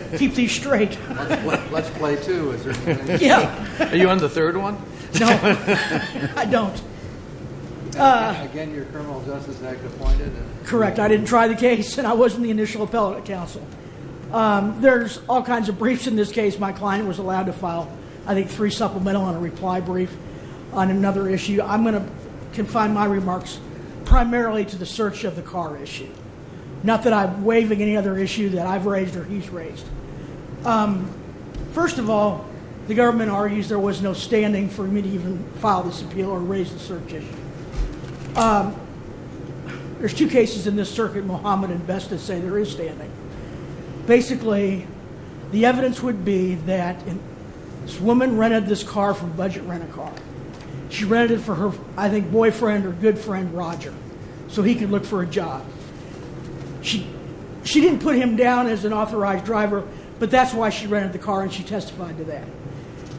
I didn't try the case and I wasn't the initial appellate counsel. There's all kinds of briefs in this case. My client was allowed to file I think three supplemental and a reply brief on another issue. I'm going to confine my remarks primarily to the search of the car issue. Not that I'm waiving any other issue that I've raised or he's raised. First of all, the government argues there was no standing for me to even file this appeal or raise the search issue. There's two cases in this circuit, Mohamed and Besta say there is standing. Basically the evidence would be that this woman rented this car from Budget Rent-A-Car. She rented it for her I think boyfriend or good friend Roger so he could look for a job. She didn't put him down as an authorized driver but that's why she rented the car and she testified to that.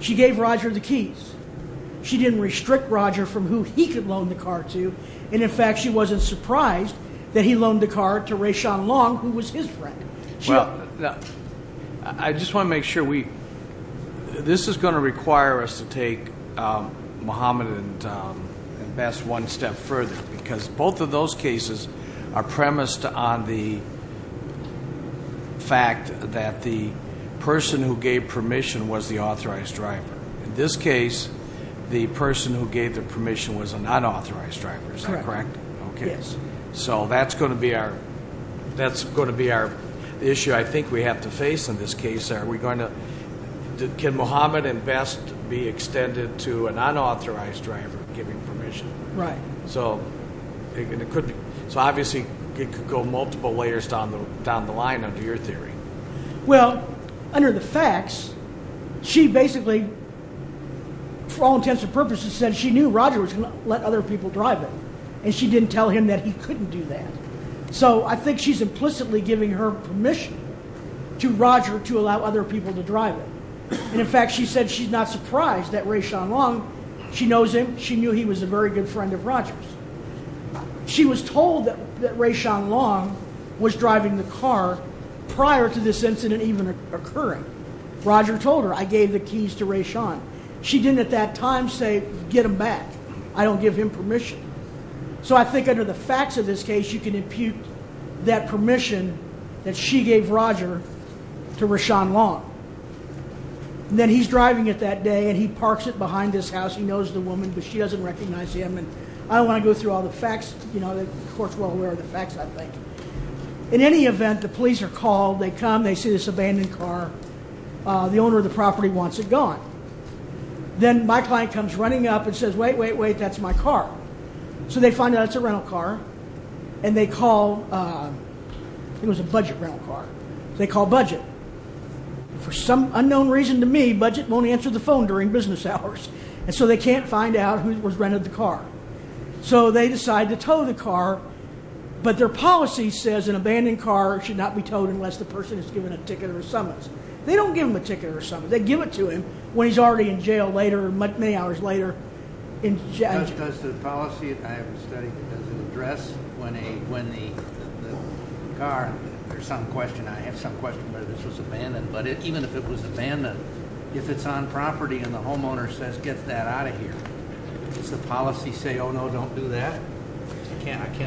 She gave Roger the keys. She didn't restrict Roger from who he could loan the car to and in fact she wasn't surprised that he loaned the car to Rashawn Long who was his friend. Well, I just want to make sure we, this is going to require us to take Mohamed and Besta one step further because both of those cases are premised on the fact that the person who gave permission was the authorized driver. In this case, the person who gave the permission was a non-authorized driver. Is that correct? Yes. So that's going to be our, that's going to be our issue I think we have to face in this case. Are we going to, can Mohamed and Besta be extended to a non-authorized driver giving permission? Right. So, and it could be, so obviously it could go multiple layers down the line under your theory. Well, under the facts, she basically for all intents and purposes said she knew Roger was going to let other people drive it and she didn't tell him that he couldn't do that. So I think she's implicitly giving her permission to Roger to allow other people to drive it. And in fact, she said she's not surprised that Rashawn Long, she knows him, she knew he was a very good friend of Roger's. She was told that Rashawn Long was driving the car prior to this incident even occurring. Roger told her, I gave the keys to Rashawn. She didn't at that time say, get him back. I don't give him permission. So I think under the facts of this case, you can impute that permission that she gave Roger to Rashawn Long. Then he's driving it that day and he parks it behind his house. He knows the woman, but she doesn't recognize him and I don't want to go through all the facts, you know, the court's well aware of the facts I think. In any event, the police are called, they come, they see this abandoned car. The owner of the property wants it gone. Then my client comes running up and says, wait, wait, wait, that's my car. So they find out it's a rental car and they call, it was a budget rental car. They call budget. For some unknown reason to me, budget won't answer the phone during business hours. And so they can't find out who was renting the car. So they decide to tow the car, but their policy says an abandoned car should not be towed unless the person has given a ticket or a summons. They don't give them a ticket or a summons. They give it to him when he's already in jail later, many hours later. Does the policy, I haven't studied, does it address when the car, there's some question, I have some question whether this was abandoned, but even if it was abandoned, if it's on property and the homeowner says, get that out of here, does the policy say, oh no, don't do that?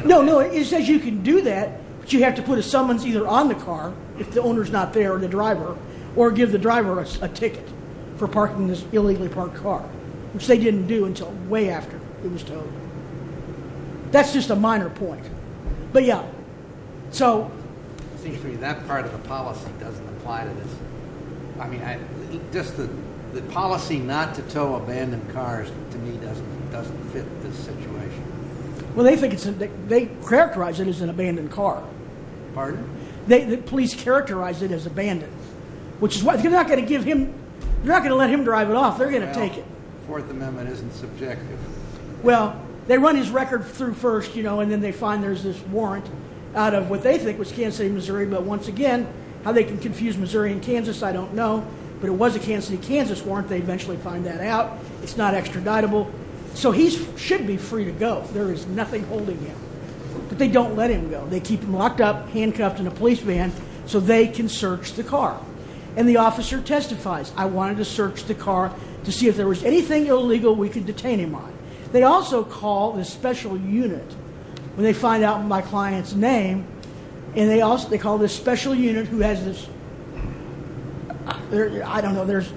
No, no. It says you can do that, but you have to put a summons either on the car if the owner's not there or the driver, or give the driver a ticket for parking this illegally parked car, which they didn't do until way after it was towed. That's just a minor point. But yeah. So. It seems to me that part of the policy doesn't apply to this. I mean, just the policy not to tow abandoned cars to me doesn't fit this situation. Well, they think it's, they characterize it as an abandoned car. Pardon? The police characterize it as abandoned, which is why, you're not going to give him, you're not going to let him drive it off. They're going to take it. Well, the Fourth Amendment isn't subjective. Well, they run his record through first, you know, and then they find there's this warrant out of what they think was Kansas City, Missouri, but once again, how they can confuse Missouri and Kansas, I don't know, but it was a Kansas City, Kansas warrant. They eventually find that out. It's not extraditable. So he should be free to go. There is nothing holding him, but they don't let him go. They keep him locked up, handcuffed in a police van so they can search the car. And the officer testifies, I wanted to search the car to see if there was anything illegal we could detain him on. They also call this special unit when they find out my client's name, and they call this special unit who has this, I don't know, there's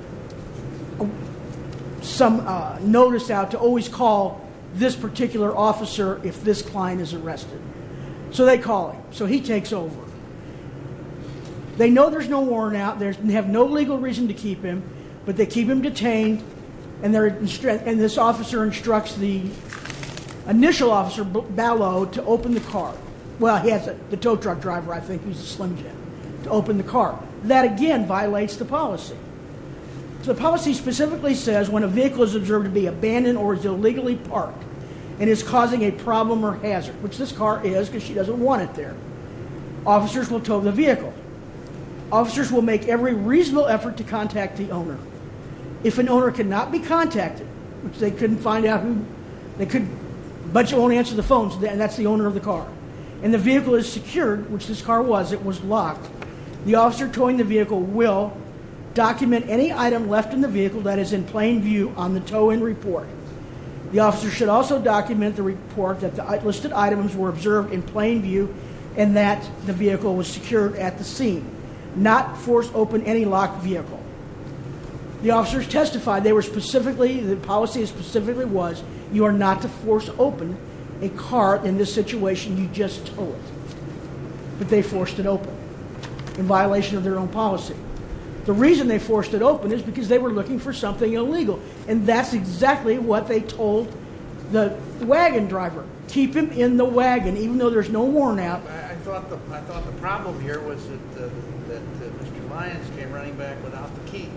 some notice out to always call this particular officer if this client is arrested. So they call him. So he takes over. They know there's no warrant out, they have no legal reason to keep him, but they keep him detained, and this officer instructs the initial officer, Ballot, to open the car. Well, he has a tow truck driver, I think, he's a Slim Jim, to open the car. That again violates the policy. The policy specifically says when a vehicle is observed to be abandoned or is illegally parked and is causing a problem or hazard, which this car is because she doesn't want it there, officers will tow the vehicle. Officers will make every reasonable effort to contact the owner. If an owner cannot be contacted, which they couldn't find out who, but you won't answer the phone, and that's the owner of the car, and the vehicle is secured, which this car was, it was locked, the officer towing the vehicle will document any item left in the vehicle that is in plain view on the tow-in report. The officer should also document the report that the listed items were observed in plain view and that the vehicle was secured at the scene. Not force open any locked vehicle. The officers testified they were specifically, the policy specifically was you are not to force open a car in this situation you just towed, but they forced it open in violation of their own policy. The reason they forced it open is because they were looking for something illegal, and that's exactly what they told the wagon driver, keep him in the wagon, even though there's no warrant out. I thought the problem here was that Mr. Lyons came running back without the keys,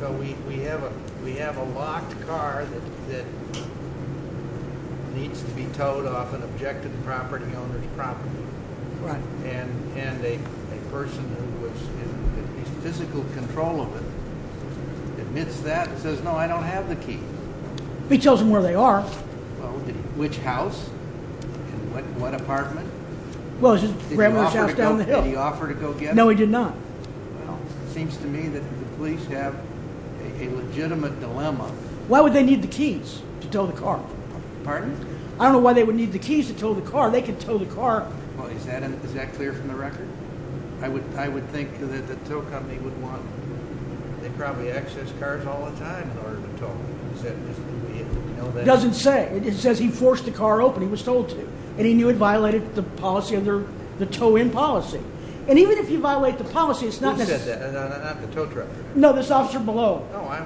so we have a locked car that needs to be towed off an objected property owner's property, and a person who was in physical control of it admits that and says no I don't have the keys. He tells them where they are. Which house? In what apartment? Well it was his grandma's house down the hill. Did he offer to go get them? No he did not. Well it seems to me that the police have a legitimate dilemma. Why would they need the keys to tow the car? Pardon? I don't know why they would need the keys to tow the car, they could tow the car. Well is that clear from the record? I would think that the tow company would want, they probably access cars all the time in order to tow them. Is that just me? It doesn't say. It says he forced the car open, he was told to, and he knew it violated the policy, the tow in policy. And even if you violate the policy it's not necessary. Who said that? Not the tow truck driver? No this officer below. No I'm,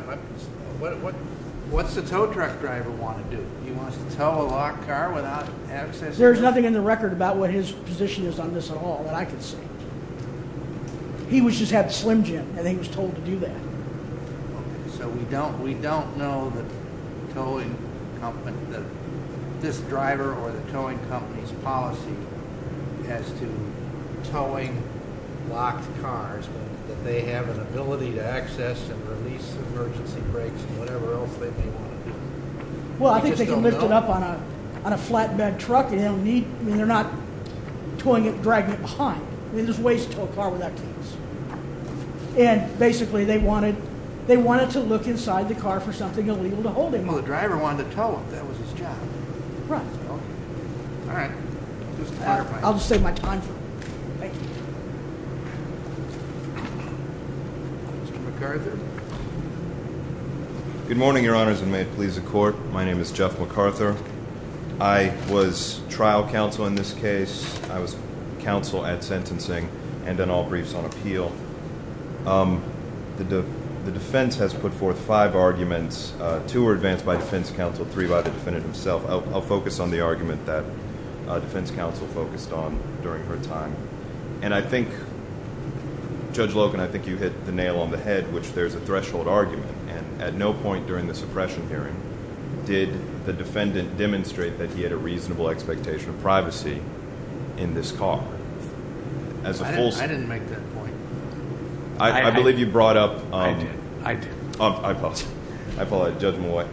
what's the tow truck driver want to do? He wants to tow a locked car without access? There is nothing in the record about what his position is on this at all that I can say. He just had Slim Jim and he was told to do that. So we don't know that this driver or the towing company's policy as to towing locked cars but that they have an ability to access and release emergency brakes and whatever else they may want to do. I just don't know. Well I think they can lift it up on a flatbed truck and they don't need, I mean they're not towing it and dragging it behind. I mean there's ways to tow a car without keys. And basically they wanted, they wanted to look inside the car for something illegal to hold him. Well the driver wanted to tow him. That was his job. Right. Alright. I'll just save my time for it. Thank you. Mr. MacArthur. Good morning your honors and may it please the court. My name is Jeff MacArthur. I was trial counsel in this case. I was counsel at sentencing and in all briefs on appeal. The defense has put forth five arguments. Two were advanced by defense counsel, three by the defendant himself. I'll focus on the argument that defense counsel focused on during her time. And I think, Judge Loken, I think you hit the nail on the head which there's a threshold argument. And at no point during the suppression hearing did the defendant demonstrate that he had a reasonable expectation of privacy in this car. I didn't make that point. I believe you brought up. I did. I apologize. I apologize. Judge Malloy.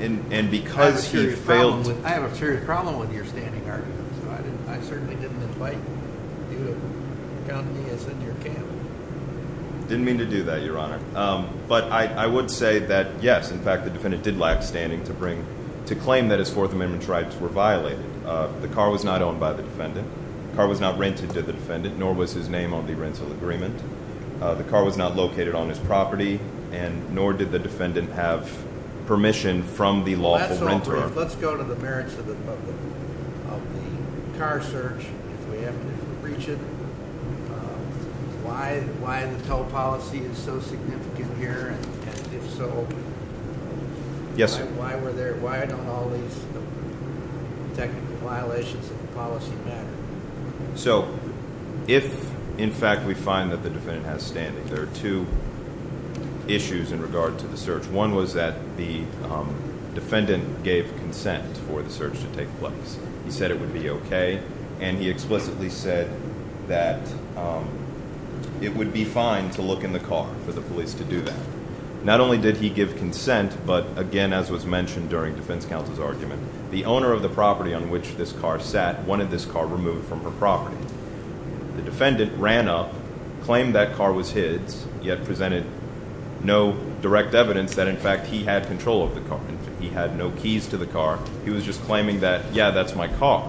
And because he failed. I have a serious problem with your standing argument. So I certainly didn't invite you to count me as in your camp. Didn't mean to do that your honor. But I would say that yes, in fact the defendant did lack standing to claim that his fourth amendment rights were violated. The car was not owned by the defendant. The car was not rented to the defendant nor was his name on the rental agreement. The car was not located on his property and nor did the defendant have permission from the lawful renter. Let's go to the merits of the car search if we have to reach it. Why the toll policy is so significant here and if so why don't all these technical violations of the policy matter? So if in fact we find that the defendant has standing there are two issues in regard to the search. One was that the defendant gave consent for the search to take place. He said it would be okay and he explicitly said that it would be fine to look in the car for the police to do that. Not only did he give consent but again as was mentioned during defense counsel's argument the owner of the property on which this car sat wanted this car removed from her property. The defendant ran up, claimed that car was his, yet presented no direct evidence that in fact he had control of the car. He had no keys to the car. He was just claiming that yeah that's my car.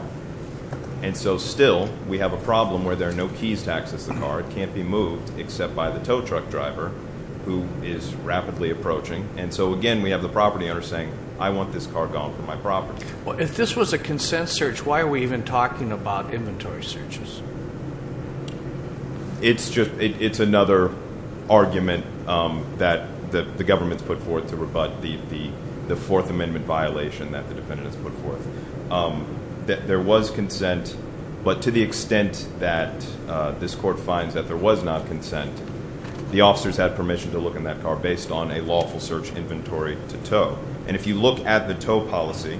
And so still we have a problem where there are no keys to access the car. It can't be moved except by the tow truck driver who is rapidly approaching. And so again we have the property owner saying I want this car gone from my property. If this was a consent search why are we even talking about inventory searches? It's just, it's another argument that the government's put forth to rebut the fourth amendment violation that the defendant has put forth. There was consent but to the extent that this court finds that there was not consent, the officers had permission to look in that car based on a lawful search inventory to tow. And if you look at the tow policy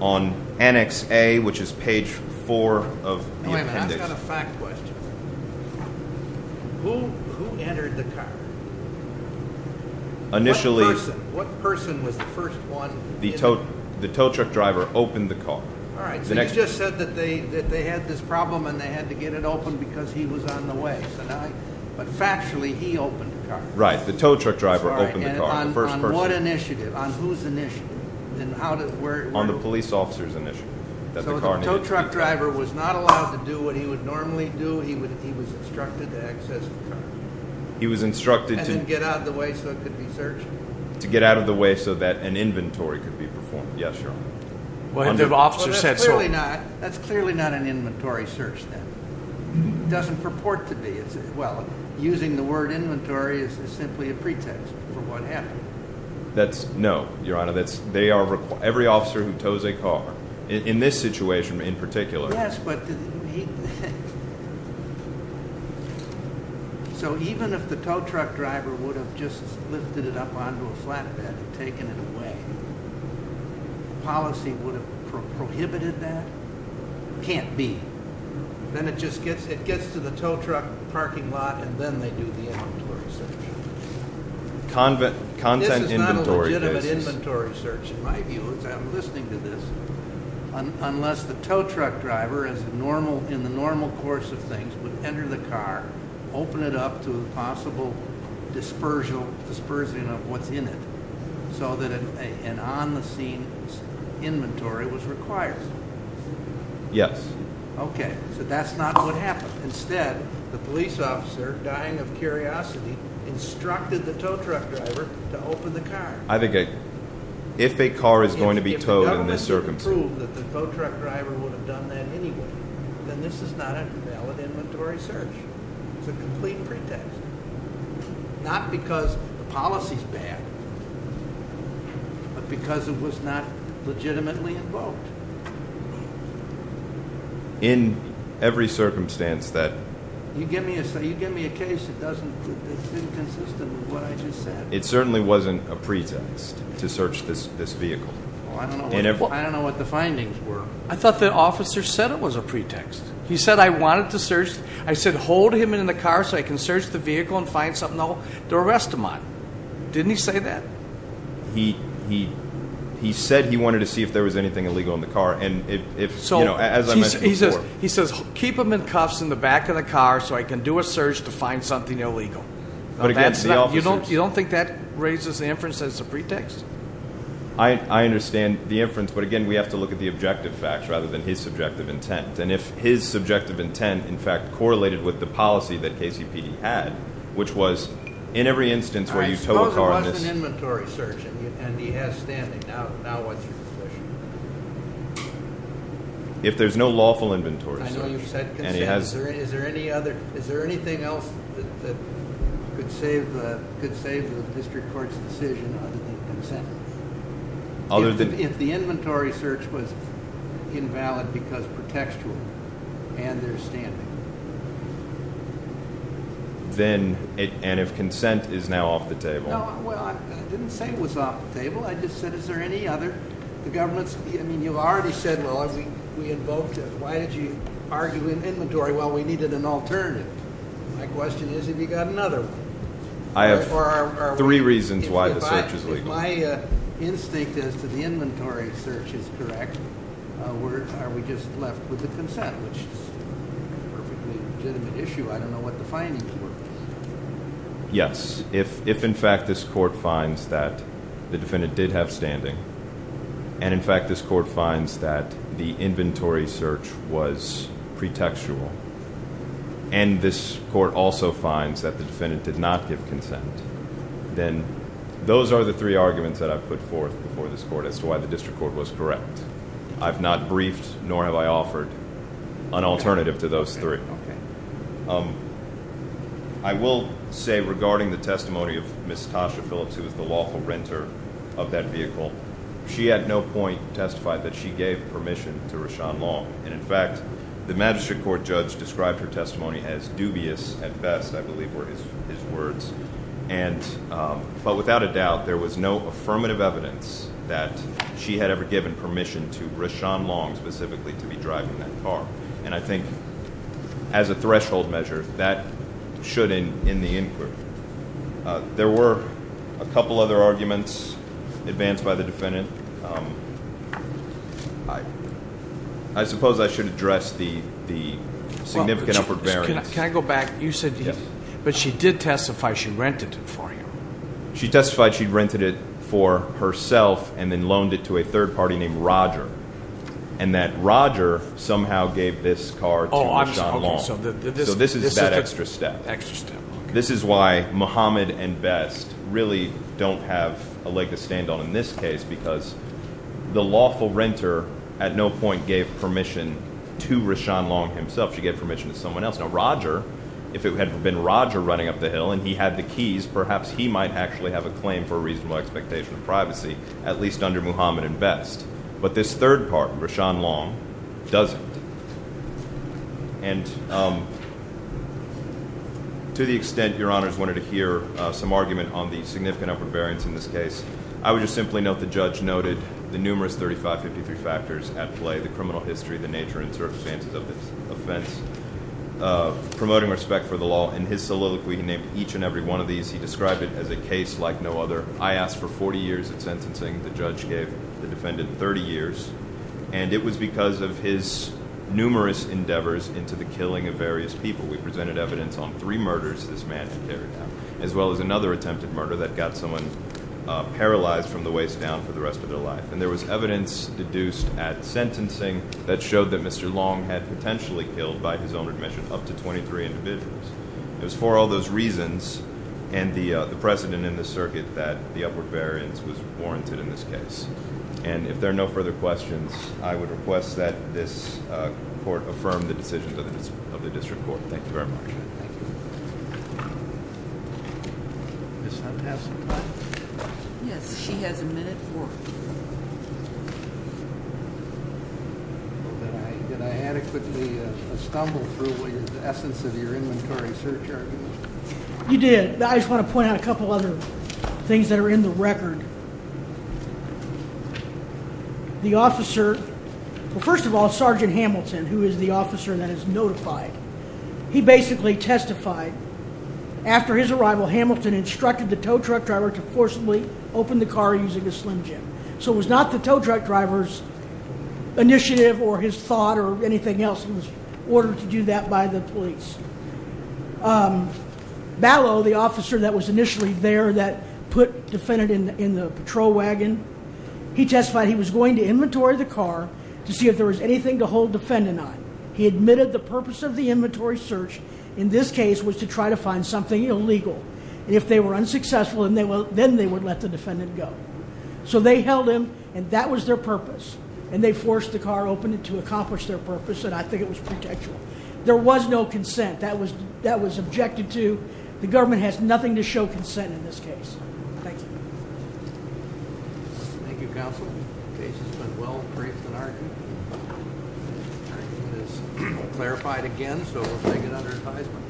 on annex A which is page 4 of the appendix. Wait a minute, I've got a fact question. Who entered the car? What person? What person was the first one? The tow truck driver opened the car. Alright, so you just said that they had this problem and they had to get it open because he was on the way. But factually he opened the car. Right, the tow truck driver opened the car. On what initiative? On whose initiative? On the police officer's initiative. So the tow truck driver was not allowed to do what he would normally do? He was instructed to access the car? He was instructed to... And then get out of the way so it could be searched? To get out of the way so that an inventory could be performed. Yes, Your Honor. That's clearly not an inventory search then. It doesn't purport to be. Well, using the word inventory is simply a pretext for what happened. No, Your Honor. Every officer who tows a car, in this situation in particular... Yes, but... So even if the tow truck driver would have just lifted it up onto a flatbed and taken it away, policy would have prohibited that? Can't be. Then it just gets to the tow truck parking lot and then they do the inventory search. This is not a legitimate inventory search, in my view, as I'm listening to this. Unless the tow truck driver, in the normal course of things, would enter the car, open it up to a possible dispersion of what's in it, so that an on-the-scene inventory was required. Yes. Okay, so that's not what happened. Instead, the police officer, dying of curiosity, instructed the tow truck driver to open the car. If a car is going to be towed in this circumstance... If it's proved that the tow truck driver would have done that anyway, then this is not a valid inventory search. It's a complete pretext. Not because the policy's bad, but because it was not legitimately invoked. In every circumstance that... You give me a case that's inconsistent with what I just said. It certainly wasn't a pretext to search this vehicle. I don't know what the findings were. I thought the officer said it was a pretext. He said, I wanted to search... I said, hold him in the car so I can search the vehicle and find something I'll arrest him on. Didn't he say that? He said he wanted to see if there was anything illegal in the car, and if, you know, as I mentioned before... He says, keep him in cuffs in the back of the car so I can do a search to find something illegal. You don't think that raises the inference that it's a pretext? I understand the inference, but again, we have to look at the objective facts rather than his subjective intent. And if his subjective intent, in fact, correlated with the policy that KCPD had, which was, in every instance where you tow a car... I suppose it was an inventory search, and he has standing. Now what's your position? If there's no lawful inventory search... I know you've said consent. Is there anything else that could save the district court's decision other than consent? If the inventory search was invalid because pretextual and there's standing. Then, and if consent is now off the table... No, well, I didn't say it was off the table. I just said, is there any other? The government's... I mean, you've already said, well, we invoked it. Why did you argue in inventory? Well, we needed an alternative. My question is, have you got another one? I have three reasons why the search is legal. If my instinct as to the inventory search is correct, are we just left with the consent, which is a perfectly legitimate issue. I don't know what the findings were. Yes. If, in fact, this court finds that the defendant did have standing, and, in fact, this court finds that the inventory search was pretextual, and this court also finds that the defendant did not give consent, then those are the three arguments that I've put forth before this court as to why the district court was correct. I've not briefed, nor have I offered an alternative to those three. I will say, regarding the testimony of Ms. Tasha Phillips, who was the lawful renter of that vehicle, she at no point testified that she gave permission to Rashawn Long. And, in fact, the magistrate court judge described her testimony as dubious at best, I believe, were his words. But without a doubt, there was no affirmative evidence that she had ever given permission to Rashawn Long, specifically, to be driving that car. And I think, as a threshold measure, that should, in the inquiry. There were a couple other arguments advanced by the defendant. I suppose I should address the significant upper barriers. Can I go back? You said, but she did testify she rented it for him. She testified she rented it for herself, and then loaned it to a third party named Roger, and that Roger somehow gave this car to Rashawn Long. So this is that extra step. This is why Muhammad and Best really don't have a leg to stand on in this case, because the lawful renter at no point gave permission to Rashawn Long himself. She gave permission to someone else. Now, Roger, if it had been Roger running up the hill, and he had the keys, perhaps he might actually have a claim for a reasonable expectation of privacy, at least under Muhammad and Best. But this third party, Rashawn Long, doesn't. And to the extent Your Honors wanted to hear some argument on the significant upper variance in this case, I would just simply note the judge noted the numerous 35-53 factors at play, the criminal history, the nature and circumstances of this offense, promoting respect for the law. In his soliloquy, he named each and every one of these. He described it as a case like no other. I asked for 40 years of sentencing. The judge gave the defendant 30 years. And it was because of his numerous endeavors into the killing of various people. We presented evidence on three murders this man had carried out, as well as another attempted murder that got someone paralyzed from the waist down for the rest of their life. And there was evidence deduced at sentencing that showed that Mr. Long had potentially killed, by his own admission, up to 23 individuals. It was for all those reasons, and the precedent in the circuit, that the upward variance was warranted in this case. And if there are no further questions, I would request that this court affirm the decisions of the district court. Thank you very much. Ms. Hunt, have some time? Yes, she has a minute. Did I adequately stumble through the essence of your inventory search argument? You did. I just want to point out a couple other things that are in the record. The officer... Well, first of all, Sergeant Hamilton, who is the officer that is notified, he basically testified after his arrival, Hamilton instructed the tow truck driver to forcibly open the car using a Slim Jim. So it was not the tow truck driver's initiative, or his thought, or anything else. It was ordered to do that by the police. Ballot, the officer that was initially there, that put the defendant in the patrol wagon, he testified he was going to inventory the car to see if there was anything to hold the defendant on. He admitted the purpose of the inventory search, in this case, was to try to find something illegal. If they were unsuccessful, then they would let the defendant go. So they held him, and that was their purpose. And they forced the car open to accomplish their purpose, and I think it was predictable. There was no consent. That was objected to. The government has nothing to show consent in this case. Thank you. Thank you, Counsel. The case has been well briefed in our view. It is clarified again, so we'll take it under advisement.